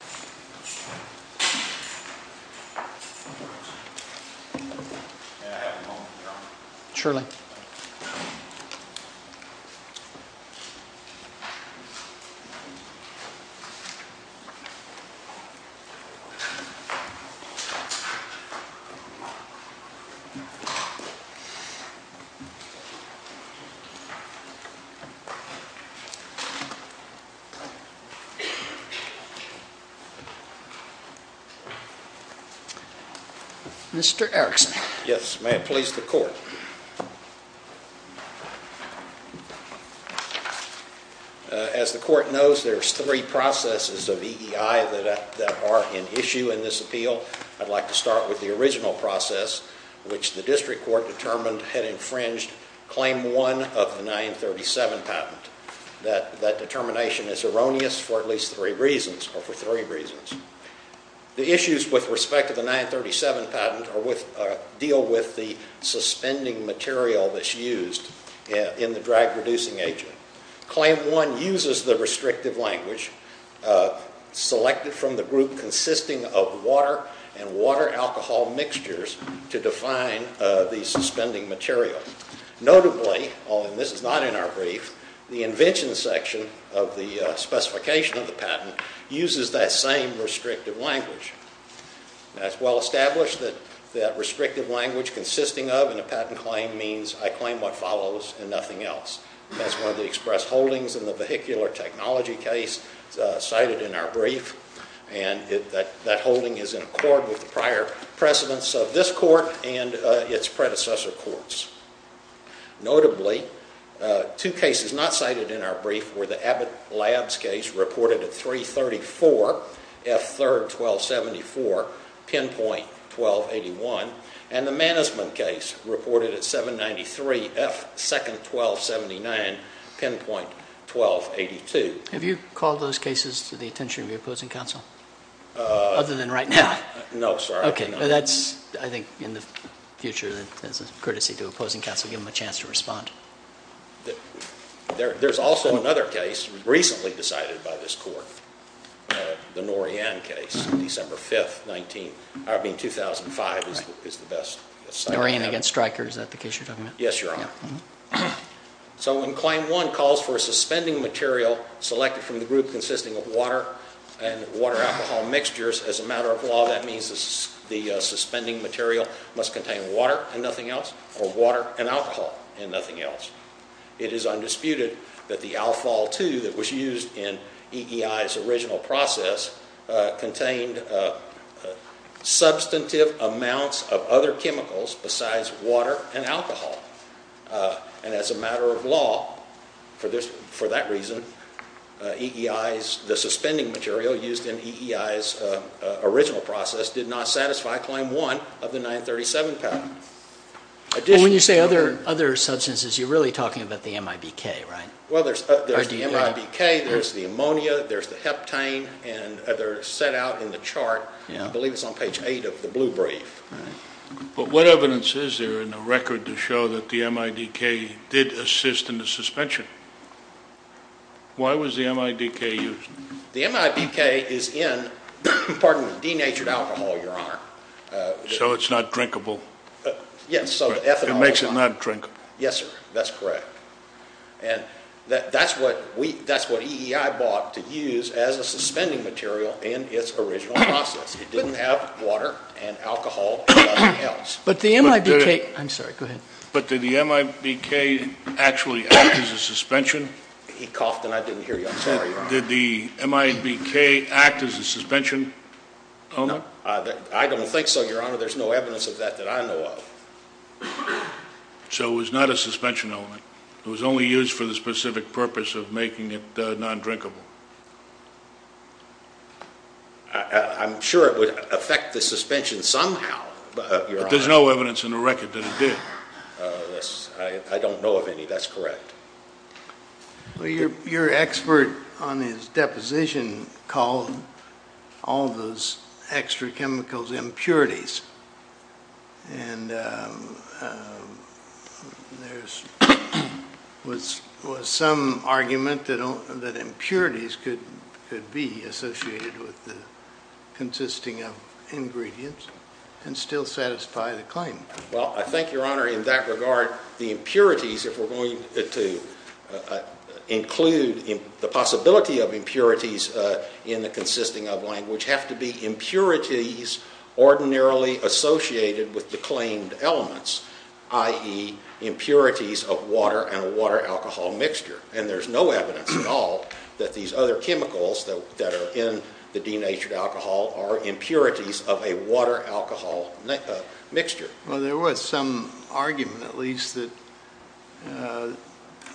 I have a moment of your honor. Surely. Mr. Erickson. Yes, may it please the court. As the court knows, there's three processes of EEI that are in issue in this appeal. I'd like to start with the original process, which the district court determined had infringed Claim 1 of the 937 patent. That determination is erroneous for at least three reasons, or for three reasons. The issues with respect to the 937 patent deal with the suspending material that's used in the drag-reducing agent. Claim 1 uses the restrictive language selected from the group consisting of water and water-alcohol mixtures to define the suspending material. Notably, although this is not in our brief, the invention section of the specification of the patent uses that same restrictive language. It's well established that restrictive language consisting of a patent claim means I claim what follows and nothing else. That's one of the express holdings in the vehicular technology case cited in our brief. That holding is in accord with the prior precedence of this court and its predecessor courts. Notably, two cases not cited in our brief were the Abbott Labs case reported at 334, F3-1274, pinpoint 1281, and the Mannesman case reported at 793, F2-1279, pinpoint 1282. Have you called those cases to the attention of your opposing counsel? Other than right now? No, sorry. That's, I think, in the future, as a courtesy to opposing counsel, give them a chance to respond. There's also another case recently decided by this court, the Norian case, December 5th, 2005. Norian against Stryker, is that the case you're talking about? Yes, Your Honor. So when claim one calls for a suspending material selected from the group consisting of water and water-alcohol mixtures, as a matter of law that means the suspending material must contain water and nothing else or water and alcohol and nothing else. It is undisputed that the alfol-2 that was used in EEI's original process contained substantive amounts of other chemicals besides water and alcohol. And as a matter of law, for that reason, the suspending material used in EEI's original process did not satisfy claim one of the 937 pattern. When you say other substances, you're really talking about the MIBK, right? Well, there's the MIBK, there's the ammonia, there's the heptane, and they're set out in the chart. I believe it's on page 8 of the blue brief. But what evidence is there in the record to show that the MIBK did assist in the suspension? Why was the MIBK used? The MIBK is in, pardon me, denatured alcohol, Your Honor. So it's not drinkable? Yes. It makes it not drinkable. Yes, sir. That's correct. And that's what EEI bought to use as a suspending material in its original process. It didn't have water and alcohol and nothing else. But the MIBK, I'm sorry, go ahead. But did the MIBK actually act as a suspension? He coughed and I didn't hear you. I'm sorry, Your Honor. Did the MIBK act as a suspension? No. I don't think so, Your Honor. There's no evidence of that that I know of. So it was not a suspension element. It was only used for the specific purpose of making it non-drinkable. I'm sure it would affect the suspension somehow, Your Honor. But there's no evidence in the record that it did. I don't know of any. That's correct. Well, your expert on his deposition called all those extra chemicals impurities. And there was some argument that impurities could be associated with the consisting of ingredients and still satisfy the claim. Well, I think, Your Honor, in that regard, the impurities, if we're going to include the possibility of impurities in the consisting of language, have to be impurities ordinarily associated with the claimed elements, i.e. impurities of water and a water-alcohol mixture. And there's no evidence at all that these other chemicals that are in the denatured alcohol are impurities of a water-alcohol mixture. Well, there was some argument, at least, that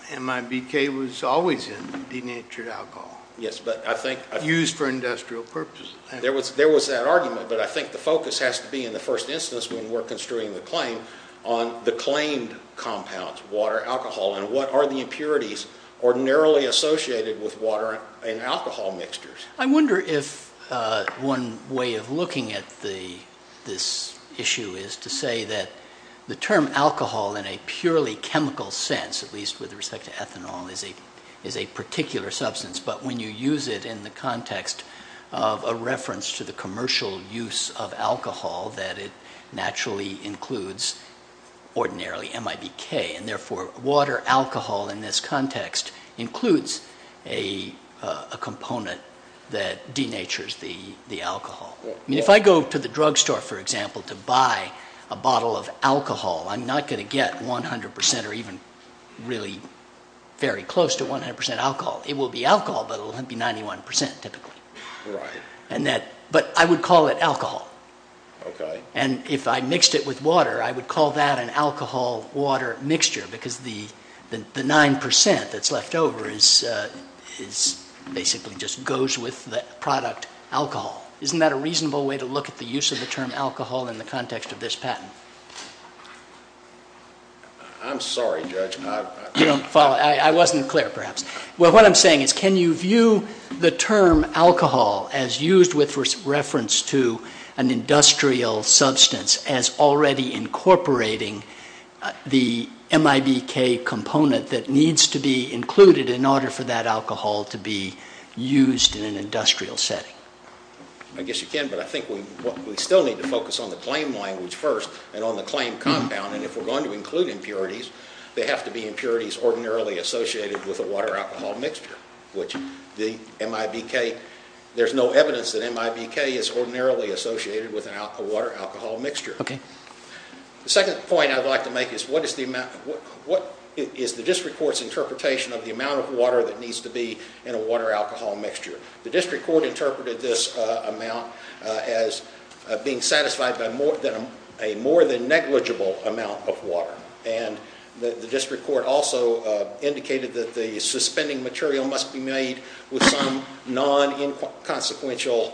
MIBK was always in denatured alcohol. Yes, but I think— Used for industrial purposes. There was that argument, but I think the focus has to be, in the first instance, when we're construing the claim, on the claimed compounds, water, alcohol, and what are the impurities ordinarily associated with water and alcohol mixtures. I wonder if one way of looking at this issue is to say that the term alcohol, in a purely chemical sense, at least with respect to ethanol, is a particular substance, but when you use it in the context of a reference to the commercial use of alcohol, that it naturally includes, ordinarily, MIBK, and therefore water-alcohol in this context includes a component that denatures the alcohol. I mean, if I go to the drugstore, for example, to buy a bottle of alcohol, I'm not going to get 100 percent or even really very close to 100 percent alcohol. It will be alcohol, but it will be 91 percent, typically. Right. But I would call it alcohol. Okay. And if I mixed it with water, I would call that an alcohol-water mixture because the 9 percent that's left over basically just goes with the product alcohol. Isn't that a reasonable way to look at the use of the term alcohol in the context of this patent? I'm sorry, Judge. I wasn't clear, perhaps. Well, what I'm saying is can you view the term alcohol as used with reference to an industrial substance as already incorporating the MIBK component that needs to be included in order for that alcohol to be used in an industrial setting? I guess you can, but I think we still need to focus on the claim language first and on the claim compound, and if we're going to include impurities, they have to be impurities ordinarily associated with a water-alcohol mixture, which there's no evidence that MIBK is ordinarily associated with a water-alcohol mixture. Okay. The second point I'd like to make is what is the district court's interpretation of the amount of water that needs to be in a water-alcohol mixture? The district court interpreted this amount as being satisfied by a more than negligible amount of water, and the district court also indicated that the suspending material must be made with some non-inconsequential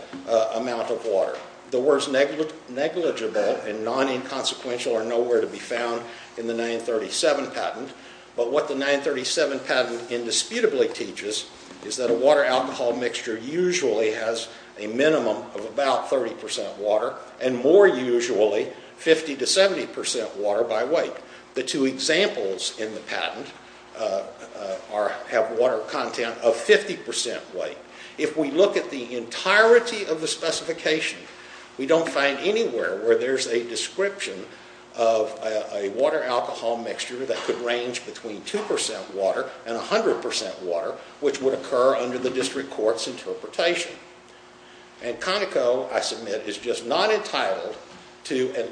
amount of water. The words negligible and non-inconsequential are nowhere to be found in the 937 patent, but what the 937 patent indisputably teaches is that a water-alcohol mixture usually has a minimum of about 30 percent water and more usually 50 to 70 percent water by weight. The two examples in the patent have water content of 50 percent weight. If we look at the entirety of the specification, we don't find anywhere where there's a description of a water-alcohol mixture that could range between 2 percent water and 100 percent water, which would occur under the district court's interpretation. And Conoco, I submit, is just not entitled to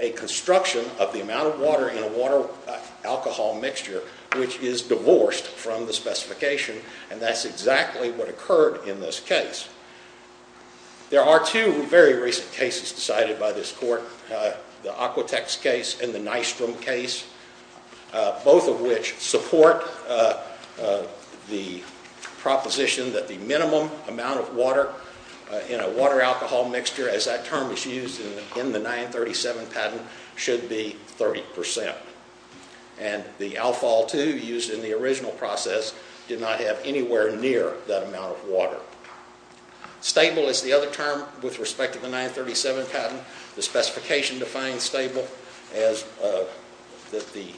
a construction of the amount of water in a water-alcohol mixture which is divorced from the specification, and that's exactly what occurred in this case. There are two very recent cases decided by this court, the Aquatex case and the Nystrom case, both of which support the proposition that the minimum amount of water in a water-alcohol mixture, as that term is used in the 937 patent, should be 30 percent. And the alfol, too, used in the original process, did not have anywhere near that amount of water. Stable is the other term with respect to the 937 patent. The specification defines stable as that the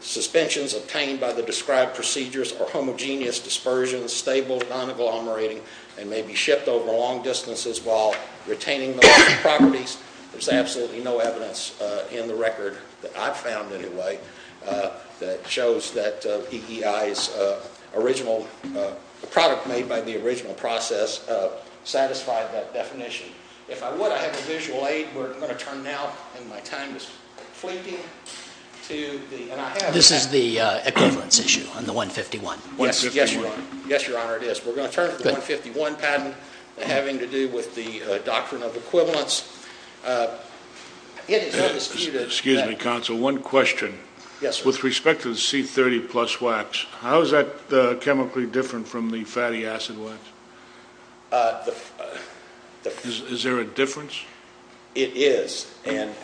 suspensions obtained by the described procedures are homogeneous dispersions, stable, non-agglomerating, and may be shipped over long distances while retaining those properties. There's absolutely no evidence in the record, that I've found anyway, that shows that PEI's original product made by the original process satisfied that definition. If I would, I have a visual aid. We're going to turn now, and my time is fleeting. This is the equivalence issue on the 151. Yes, Your Honor, it is. We're going to turn to the 151 patent having to do with the doctrine of equivalence. Excuse me, counsel, one question. Yes, sir. With respect to the C30 plus wax, how is that chemically different from the fatty acid wax? Is there a difference? It is, and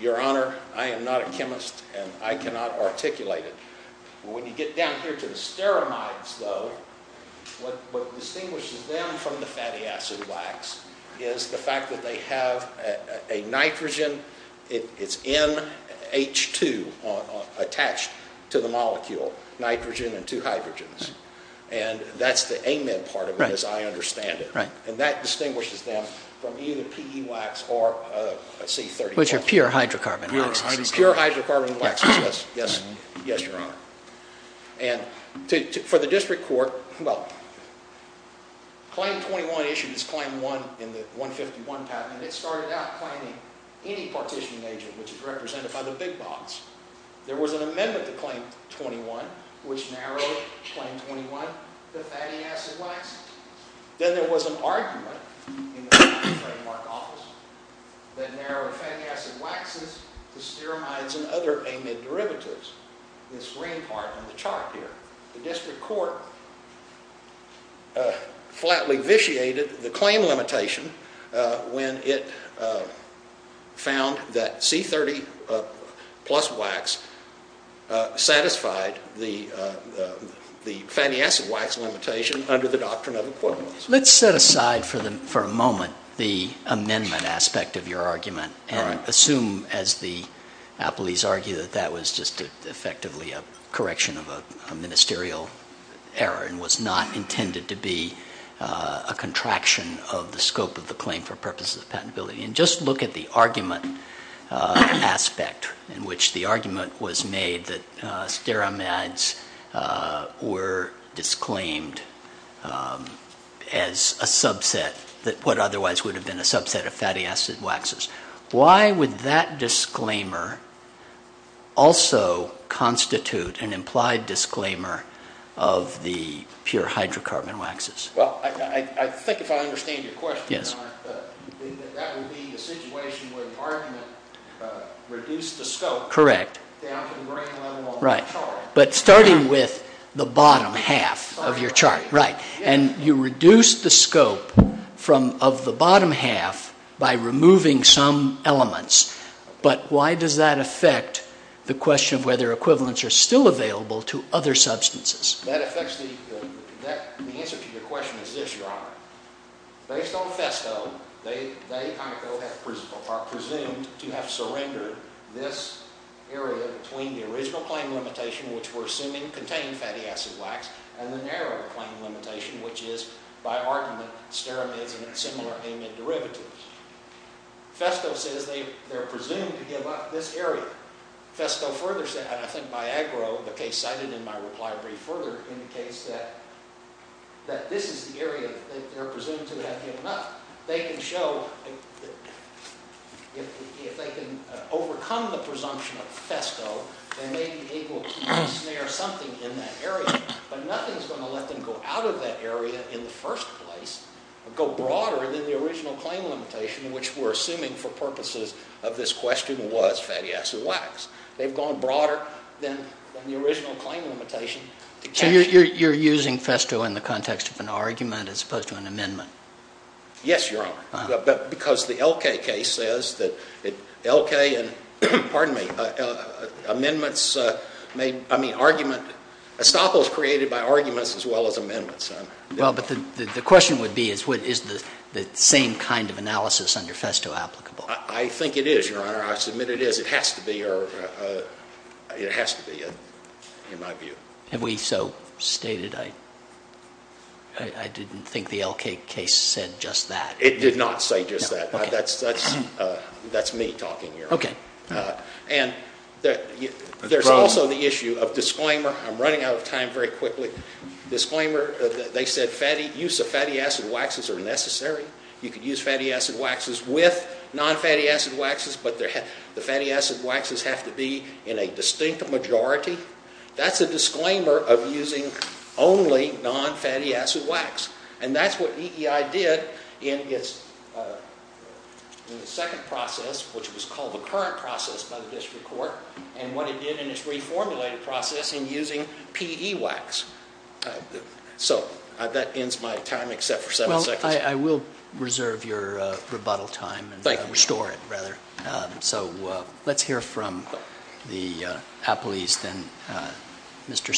Your Honor, I am not a chemist, and I cannot articulate it. When you get down here to the steramides, though, what distinguishes them from the fatty acid wax is the fact that they have a nitrogen, it's NH2 attached to the molecule, nitrogen and two hydrogens. And that's the amine part of it, as I understand it. And that distinguishes them from either PE wax or C30. Which are pure hydrocarbon waxes. Pure hydrocarbon waxes, yes, Your Honor. And for the district court, well, Claim 21 issued its Claim 1 in the 151 patent, and it started out claiming any partition agent which is represented by the big box. There was an amendment to Claim 21 which narrowed Claim 21 to fatty acid waxes. Then there was an argument in the trademark office that narrowed fatty acid waxes to steramides and other amide derivatives. This green part on the chart here. The district court flatly vitiated the claim limitation when it found that C30 plus wax satisfied the fatty acid wax limitation under the doctrine of equivalence. Let's set aside for a moment the amendment aspect of your argument and assume, as the appellees argue, that that was just effectively a correction of a ministerial error and was not intended to be a contraction of the scope of the claim for purposes of patentability. And just look at the argument aspect in which the argument was made that steramides were disclaimed as a subset, what otherwise would have been a subset of fatty acid waxes. Why would that disclaimer also constitute an implied disclaimer of the pure hydrocarbon waxes? Well, I think if I understand your question, that would be a situation where the argument reduced the scope down to the grain level on the chart. But starting with the bottom half of your chart. Right. And you reduced the scope of the bottom half by removing some elements. But why does that affect the question of whether equivalents are still available to other substances? The answer to your question is this, Your Honor. Based on Festo, they, Conoco, are presumed to have surrendered this area between the original claim limitation, which we're assuming contained fatty acid wax, and the narrow claim limitation, which is, by argument, steramides and similar amide derivatives. Festo says they're presumed to have given up this area. Festo further says, and I think by Agro, the case cited in my reply brief further, indicates that this is the area that they're presumed to have given up. They can show, if they can overcome the presumption of Festo, they may be able to snare something in that area. But nothing's going to let them go out of that area in the first place, go broader than the original claim limitation, which we're assuming for purposes of this question was fatty acid wax. They've gone broader than the original claim limitation. So you're using Festo in the context of an argument as opposed to an amendment? Yes, Your Honor. But because the Elkay case says that Elkay and, pardon me, amendments made, I mean, argument, estoppels created by arguments as well as amendments. Well, but the question would be, is the same kind of analysis under Festo applicable? I think it is, Your Honor. I submit it is. It has to be, or it has to be, in my view. Have we so stated? I didn't think the Elkay case said just that. It did not say just that. That's me talking, Your Honor. Okay. And there's also the issue of disclaimer. I'm running out of time very quickly. Disclaimer, they said use of fatty acid waxes are necessary. You could use fatty acid waxes with non-fatty acid waxes, but the fatty acid waxes have to be in a distinct majority. That's a disclaimer of using only non-fatty acid wax. And that's what EEI did in its second process, which was called the current process by the district court, and what it did in its reformulated process in using PE wax. So that ends my time except for seven seconds. Well, I will reserve your rebuttal time and restore it, rather. So let's hear from the appellees then. Mr. Cernel.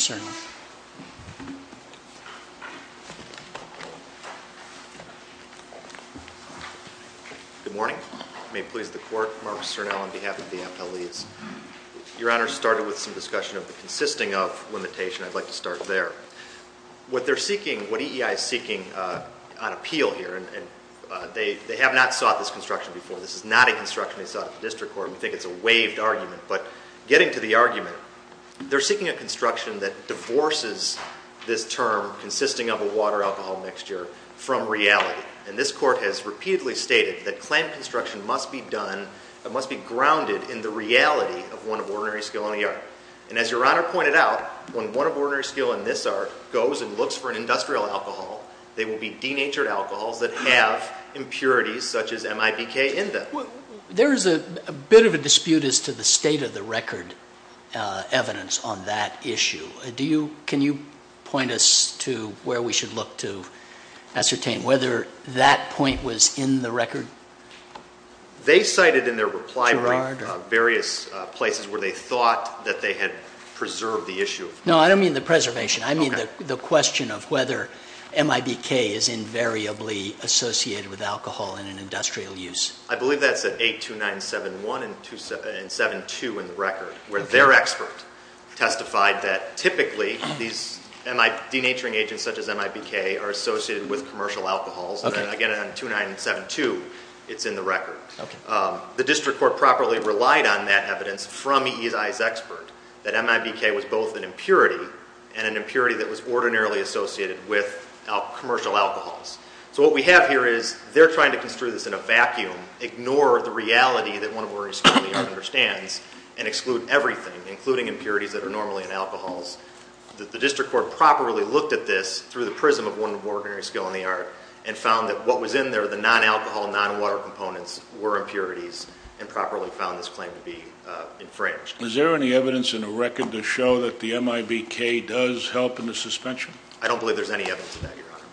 Good morning. May it please the Court, Marcus Cernel on behalf of the appellees. Your Honor, starting with some discussion of the consisting of limitation, I'd like to start there. What they're seeking, what EEI is seeking on appeal here, and they have not sought this construction before. This is not a construction they sought at the district court. We think it's a waived argument, but getting to the argument, they're seeking a construction that divorces this term consisting of a water-alcohol mixture from reality. And this court has repeatedly stated that clamp construction must be done, it must be grounded in the reality of one of ordinary skill in the art. And as Your Honor pointed out, when one of ordinary skill in this art goes and looks for an industrial alcohol, they will be denatured alcohols that have impurities such as MIBK in them. There is a bit of a dispute as to the state of the record evidence on that issue. Can you point us to where we should look to ascertain whether that point was in the record? They cited in their reply brief various places where they thought that they had preserved the issue. No, I don't mean the preservation. I mean the question of whether MIBK is invariably associated with alcohol in an industrial use. I believe that's at 82971 and 272 in the record, where their expert testified that typically these denaturing agents such as MIBK are associated with commercial alcohols. And again, on 2972, it's in the record. The district court properly relied on that evidence from EI's expert, that MIBK was both an impurity and an impurity that was ordinarily associated with commercial alcohols. So what we have here is they're trying to construe this in a vacuum, ignore the reality that one of ordinary skill in the art understands, and exclude everything, including impurities that are normally in alcohols. The district court properly looked at this through the prism of one of ordinary skill in the art and found that what was in there, the non-alcohol, non-water components, were impurities and properly found this claim to be infringed. Is there any evidence in the record to show that the MIBK does help in the suspension? I don't believe there's any evidence of that, Your Honor.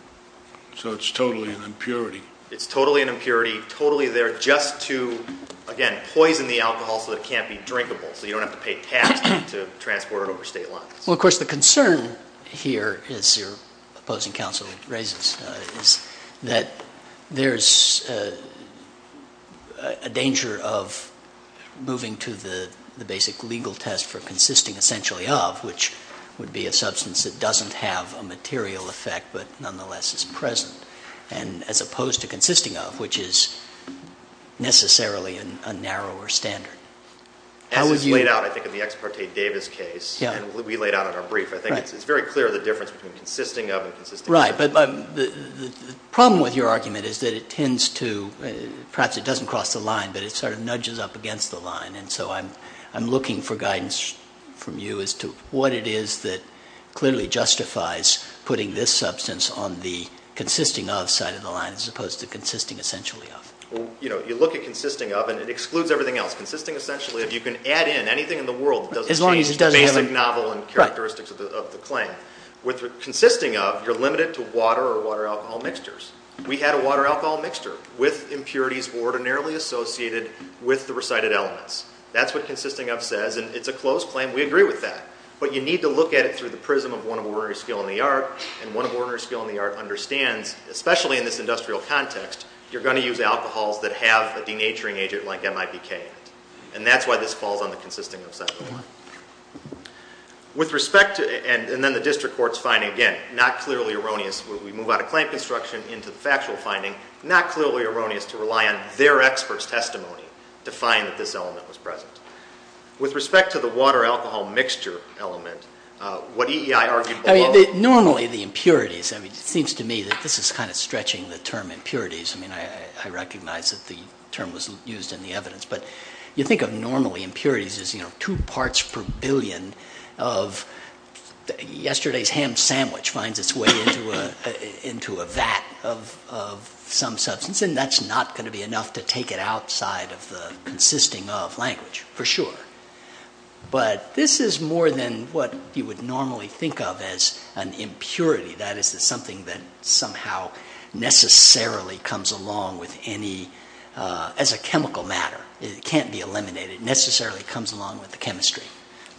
So it's totally an impurity? It's totally an impurity, totally there just to, again, poison the alcohol so that it can't be drinkable, so you don't have to pay tax to transport it over state lines. Well, of course, the concern here, as your opposing counsel raises, is that there's a danger of moving to the basic legal test for consisting essentially of, which would be a substance that doesn't have a material effect but nonetheless is present, as opposed to consisting of, which is necessarily a narrower standard. As is laid out, I think, in the ex parte Davis case and we laid out in our brief, I think it's very clear the difference between consisting of and consisting essentially of. Right, but the problem with your argument is that it tends to, perhaps it doesn't cross the line, but it sort of nudges up against the line, and so I'm looking for guidance from you as to what it is that clearly justifies putting this substance on the consisting of side of the line as opposed to consisting essentially of. Well, you know, you look at consisting of and it excludes everything else. Consisting essentially of, you can add in anything in the world that doesn't change the basic novel and characteristics of the claim. With consisting of, you're limited to water or water-alcohol mixtures. We had a water-alcohol mixture with impurities ordinarily associated with the recited elements. That's what consisting of says, and it's a closed claim. We agree with that, but you need to look at it through the prism of one of ordinary skill in the art, and one of ordinary skill in the art understands, especially in this industrial context, you're going to use alcohols that have a denaturing agent like MIPK in it, and that's why this falls on the consisting of side of the line. With respect to, and then the district court's finding, again, not clearly erroneous, we move out of claim construction into the factual finding, not clearly erroneous to rely on their expert's testimony to find that this element was present. With respect to the water-alcohol mixture element, what EEI argued below. Normally the impurities, I mean, it seems to me that this is kind of stretching the term impurities. I mean, I recognize that the term was used in the evidence, but you think of normally impurities as, you know, two parts per billion of yesterday's ham sandwich finds its way into a vat of some substance, and that's not going to be enough to take it outside of the consisting of language, for sure. But this is more than what you would normally think of as an impurity. That is something that somehow necessarily comes along with any, as a chemical matter. It can't be eliminated. It necessarily comes along with the chemistry.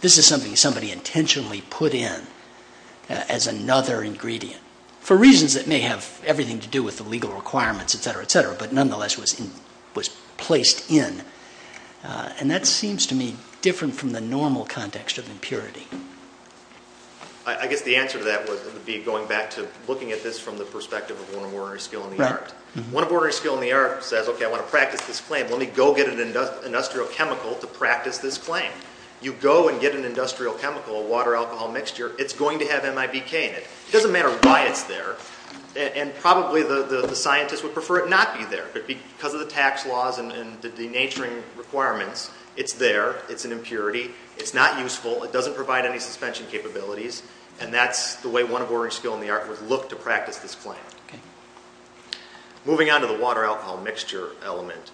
This is something somebody intentionally put in as another ingredient, for reasons that may have everything to do with the legal requirements, et cetera, et cetera, but nonetheless was placed in. And that seems to me different from the normal context of impurity. I guess the answer to that would be going back to looking at this from the perspective of one of ordinary skill in the art. Right. One of ordinary skill in the art says, okay, I want to practice this claim. Let me go get an industrial chemical to practice this claim. You go and get an industrial chemical, a water-alcohol mixture, it's going to have MIBK in it. It doesn't matter why it's there, and probably the scientists would prefer it not be there, but because of the tax laws and the denaturing requirements, it's there. It's an impurity. It's not useful. It doesn't provide any suspension capabilities, and that's the way one of ordinary skill in the art would look to practice this claim. Okay. Moving on to the water-alcohol mixture element,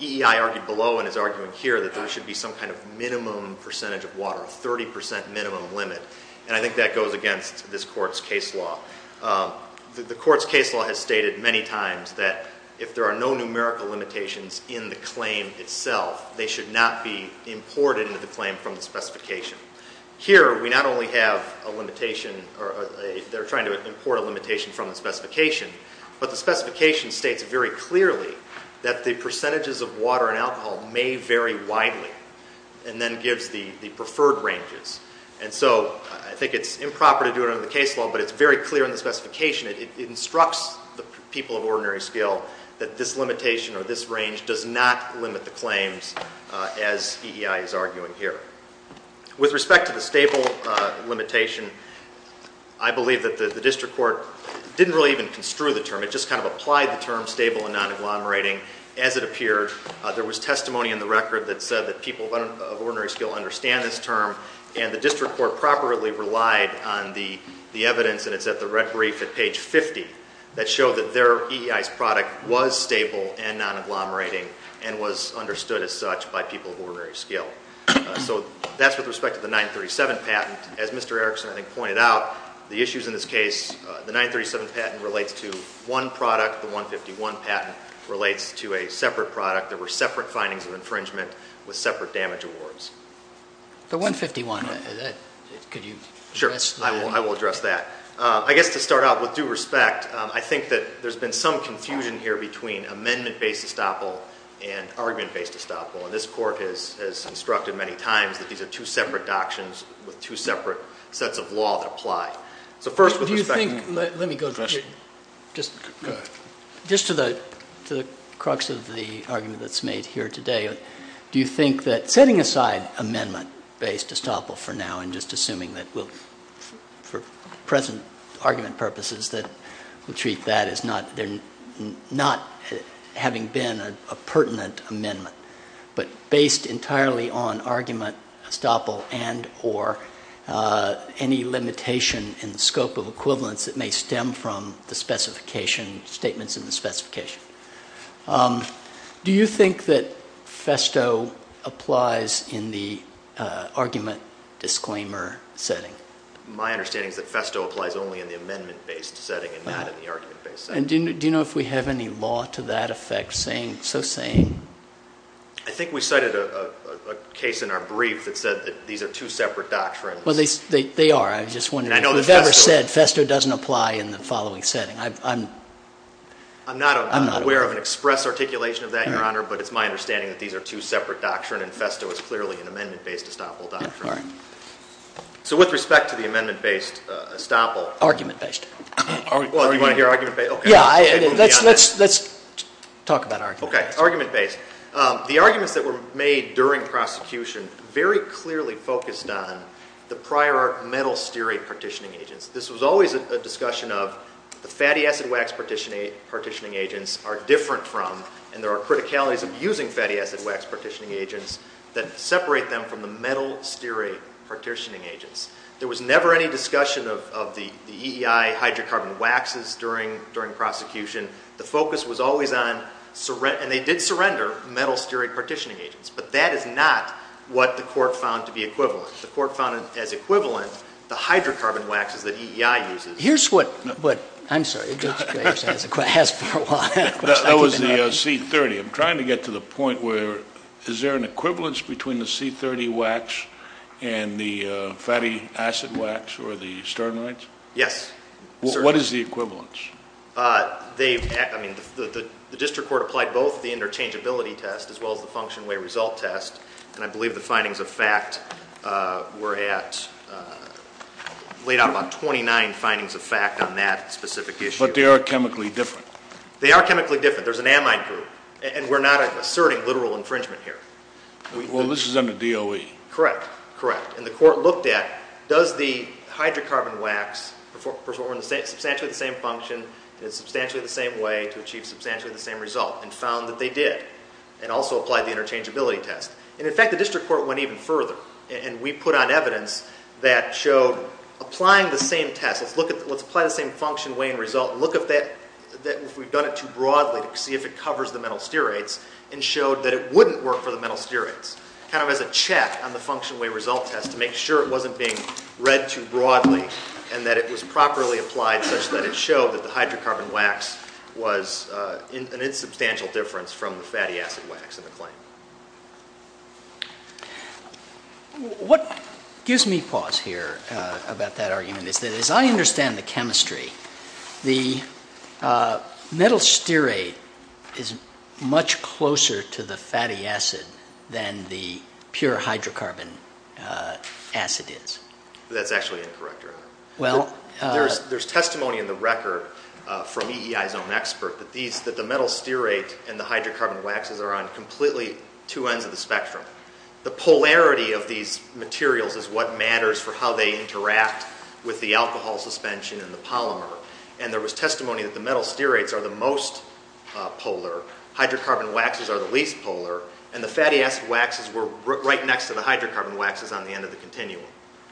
EEI argued below and is arguing here that there should be some kind of minimum percentage of water, a 30 percent minimum limit, and I think that goes against this court's case law. The court's case law has stated many times that if there are no numerical limitations in the claim itself, they should not be imported into the claim from the specification. Here we not only have a limitation or they're trying to import a limitation from the specification, but the specification states very clearly that the percentages of water and alcohol may vary widely and then gives the preferred ranges, and so I think it's improper to do it under the case law, but it's very clear in the specification. It instructs the people of ordinary skill that this limitation or this range does not limit the claims, as EEI is arguing here. With respect to the stable limitation, I believe that the district court didn't really even construe the term. It just kind of applied the term stable and non-agglomerating as it appeared. There was testimony in the record that said that people of ordinary skill understand this term, and the district court properly relied on the evidence, and it's at the red brief at page 50, that showed that their EEI's product was stable and non-agglomerating and was understood as such by people of ordinary skill. So that's with respect to the 937 patent. As Mr. Erickson, I think, pointed out, the issues in this case, the 937 patent relates to one product. The 151 patent relates to a separate product. There were separate findings of infringement with separate damage awards. The 151, could you address that? Sure. I will address that. I guess to start out, with due respect, I think that there's been some confusion here between amendment-based estoppel and argument-based estoppel, and this court has instructed many times that these are two separate doctrines with two separate sets of law that apply. So first, with respect to the question. Let me go just to the crux of the argument that's made here today. Do you think that setting aside amendment-based estoppel for now and just assuming that we'll, for present argument purposes, that we'll treat that as not having been a pertinent amendment, but based entirely on argument estoppel and or any limitation in the scope of equivalence that may stem from the specification, statements in the specification. Do you think that FESTO applies in the argument disclaimer setting? My understanding is that FESTO applies only in the amendment-based setting and not in the argument-based setting. Do you know if we have any law to that effect so saying? I think we cited a case in our brief that said that these are two separate doctrines. Well, they are. I just wondered if you've ever said FESTO doesn't apply in the following setting. I'm not aware of an express articulation of that, Your Honor, but it's my understanding that these are two separate doctrines and FESTO is clearly an amendment-based estoppel doctrine. All right. So with respect to the amendment-based estoppel. Argument-based. Well, do you want to hear argument-based? Yeah. Let's talk about argument-based. Okay. Argument-based. The arguments that were made during prosecution very clearly focused on the prior metal stearate partitioning agents. This was always a discussion of the fatty acid wax partitioning agents are different from and there are criticalities of using fatty acid wax partitioning agents that separate them from the metal stearate partitioning agents. There was never any discussion of the EEI hydrocarbon waxes during prosecution. The focus was always on, and they did surrender, metal stearate partitioning agents, but that is not what the court found to be equivalent. The court found as equivalent the hydrocarbon waxes that EEI uses. Here's what, I'm sorry, Judge Graves has for a while. That was the C-30. I'm trying to get to the point where is there an equivalence between the C-30 wax and the fatty acid wax or the sternites? Yes. What is the equivalence? The district court applied both the interchangeability test as well as the function way result test, and I believe the findings of fact were at, laid out about 29 findings of fact on that specific issue. But they are chemically different. They are chemically different. There's an amide group, and we're not asserting literal infringement here. Well, this is under DOE. Correct. Correct. And the court looked at does the hydrocarbon wax perform substantially the same function in substantially the same way to achieve substantially the same result, and found that they did, and also applied the interchangeability test. And, in fact, the district court went even further, and we put on evidence that showed applying the same test, let's apply the same function, way, and result, and look if we've done it too broadly to see if it covers the metal steroids, and showed that it wouldn't work for the metal steroids, kind of as a check on the function way result test to make sure it wasn't being read too broadly and that it was properly applied such that it showed that the hydrocarbon wax was an insubstantial difference from the fatty acid wax in the claim. What gives me pause here about that argument is that as I understand the chemistry, the metal steroid is much closer to the fatty acid than the pure hydrocarbon acid is. That's actually incorrect, Your Honor. There's testimony in the record from EEI's own expert that the metal steroid and the hydrocarbon waxes are on completely two ends of the spectrum. The polarity of these materials is what matters for how they interact with the alcohol suspension in the polymer, and there was testimony that the metal steroids are the most polar, hydrocarbon waxes are the least polar, and the fatty acid waxes were right next to the hydrocarbon waxes on the end of the continuum.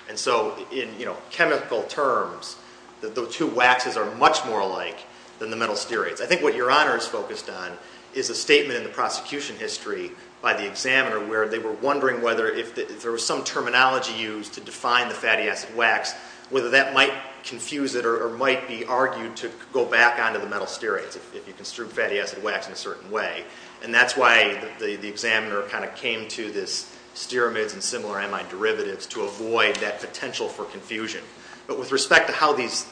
And so in chemical terms, the two waxes are much more alike than the metal steroids. I think what Your Honor is focused on is a statement in the prosecution history by the examiner where they were wondering whether if there was some terminology used to define the fatty acid wax, whether that might confuse it or might be argued to go back onto the metal steroids if you construed fatty acid wax in a certain way. And that's why the examiner kind of came to this steramids and similar amide derivatives to avoid that potential for confusion. But with respect to how these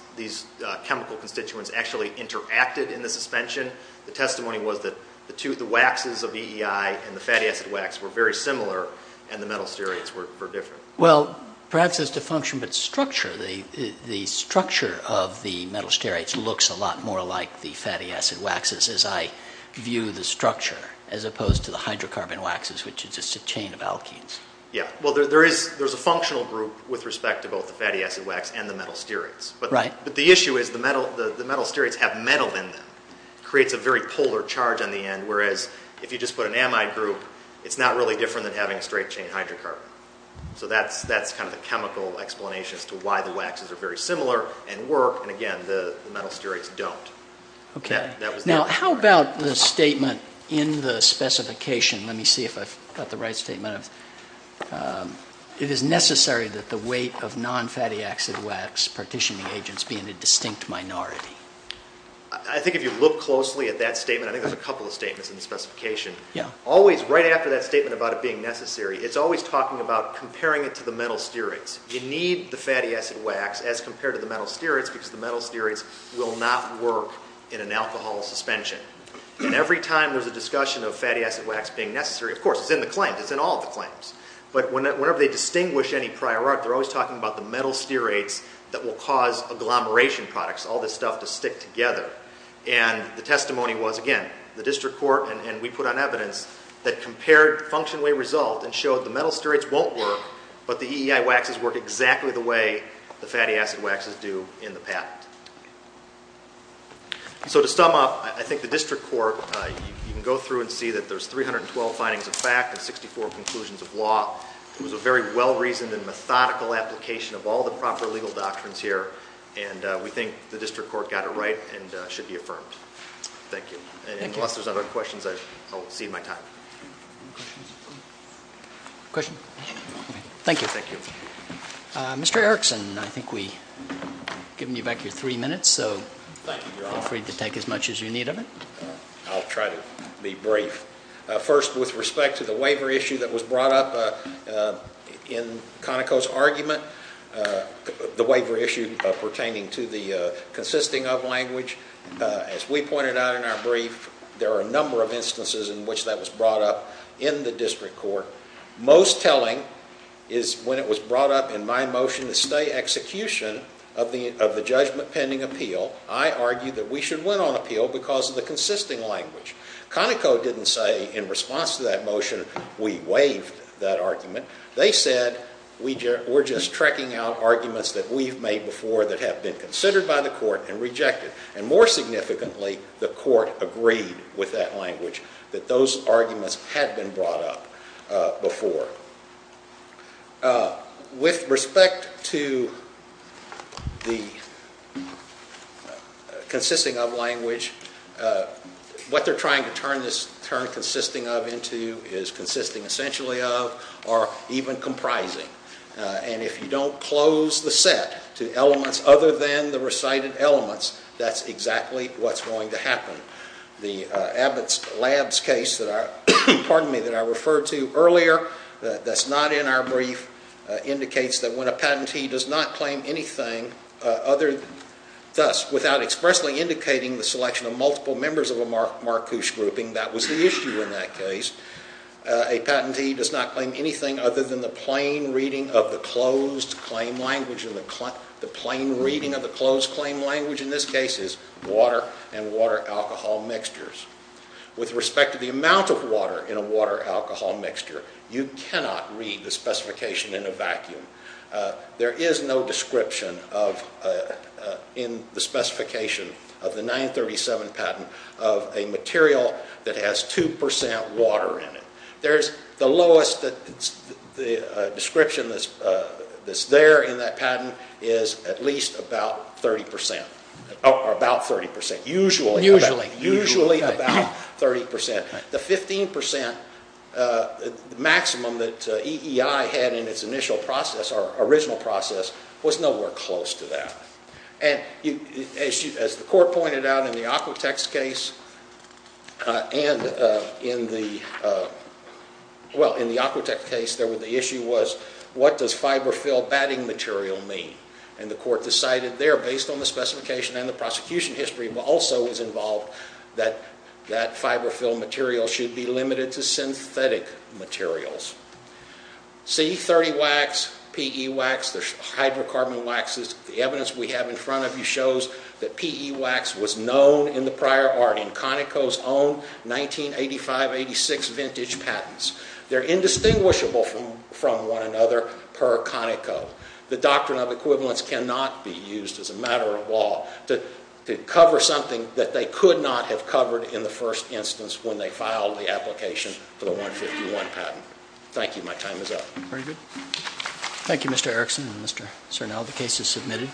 chemical constituents actually interacted in the suspension, the testimony was that the waxes of EEI and the fatty acid wax were very similar and the metal steroids were different. Well, perhaps it's a function of its structure. The structure of the metal steroids looks a lot more like the fatty acid waxes as I view the structure as opposed to the hydrocarbon waxes, which is just a chain of alkenes. Yeah. Well, there's a functional group with respect to both the fatty acid wax and the metal steroids. But the issue is the metal steroids have metal in them. It creates a very polar charge on the end, whereas if you just put an amide group, it's not really different than having a straight chain hydrocarbon. So that's kind of the chemical explanation as to why the waxes are very similar and work. And again, the metal steroids don't. Now, how about the statement in the specification? Let me see if I've got the right statement. It is necessary that the weight of non-fatty acid wax partitioning agents be in a distinct minority. I think if you look closely at that statement, I think there's a couple of statements in the specification. Always right after that statement about it being necessary, it's always talking about comparing it to the metal steroids. You need the fatty acid wax as compared to the metal steroids because the metal steroids will not work in an alcohol suspension. And every time there's a discussion of fatty acid wax being necessary, of course, it's in the claims. It's in all the claims. But whenever they distinguish any prior art, they're always talking about the metal steroids that will cause agglomeration products, all this stuff to stick together. And the testimony was, again, the district court and we put on evidence that compared functionally result and showed the metal steroids won't work, but the EEI waxes work exactly the way the fatty acid waxes do in the patent. So to sum up, I think the district court, you can go through and see that there's 312 findings of fact and 64 conclusions of law. It was a very well-reasoned and methodical application of all the proper legal doctrines here, and we think the district court got it right and should be affirmed. Thank you. And unless there's other questions, I'll cede my time. Questions? Thank you. Mr. Erickson, I think we've given you back your three minutes, so feel free to take as much as you need of it. I'll try to be brief. First, with respect to the waiver issue that was brought up in Conoco's argument, the waiver issue pertaining to the consisting of language, as we pointed out in our brief, there are a number of instances in which that was brought up in the district court. Most telling is when it was brought up in my motion to stay execution of the judgment pending appeal, I argued that we should win on appeal because of the consisting language. Conoco didn't say in response to that motion, we waived that argument. They said we're just tracking out arguments that we've made before that have been considered by the court and rejected. And more significantly, the court agreed with that language that those arguments had been brought up before. With respect to the consisting of language, what they're trying to turn this term consisting of into is consisting essentially of or even comprising. And if you don't close the set to elements other than the recited elements, that's exactly what's going to happen. The Abbott Labs case that I referred to earlier, that's not in our brief, indicates that when a patentee does not claim anything other than thus, without expressly indicating the selection of multiple members of a MARCUSH grouping, that was the issue in that case, a patentee does not claim anything other than the plain reading of the closed claim language. And the plain reading of the closed claim language in this case is water and water-alcohol mixtures. With respect to the amount of water in a water-alcohol mixture, you cannot read the specification in a vacuum. There is no description in the specification of the 937 patent of a material that has 2 percent water in it. The lowest description that's there in that patent is at least about 30 percent, or about 30 percent, usually about 30 percent. The 15 percent maximum that EEI had in its initial process, or original process, was nowhere close to that. As the court pointed out in the Aquatex case, and in the, well, in the Aquatex case, the issue was, what does fiberfill batting material mean? And the court decided there, based on the specification and the prosecution history, also was involved that that fiberfill material should be limited to synthetic materials. C30 wax, PE wax, there's hydrocarbon waxes. The evidence we have in front of you shows that PE wax was known in the prior art, in Conoco's own 1985-86 vintage patents. They're indistinguishable from one another per Conoco. The doctrine of equivalence cannot be used as a matter of law to cover something that they could not have covered in the first instance when they filed the application for the 151 patent. Thank you. My time is up. Very good. Thank you, Mr. Erickson and Mr. Sernell. The case is submitted.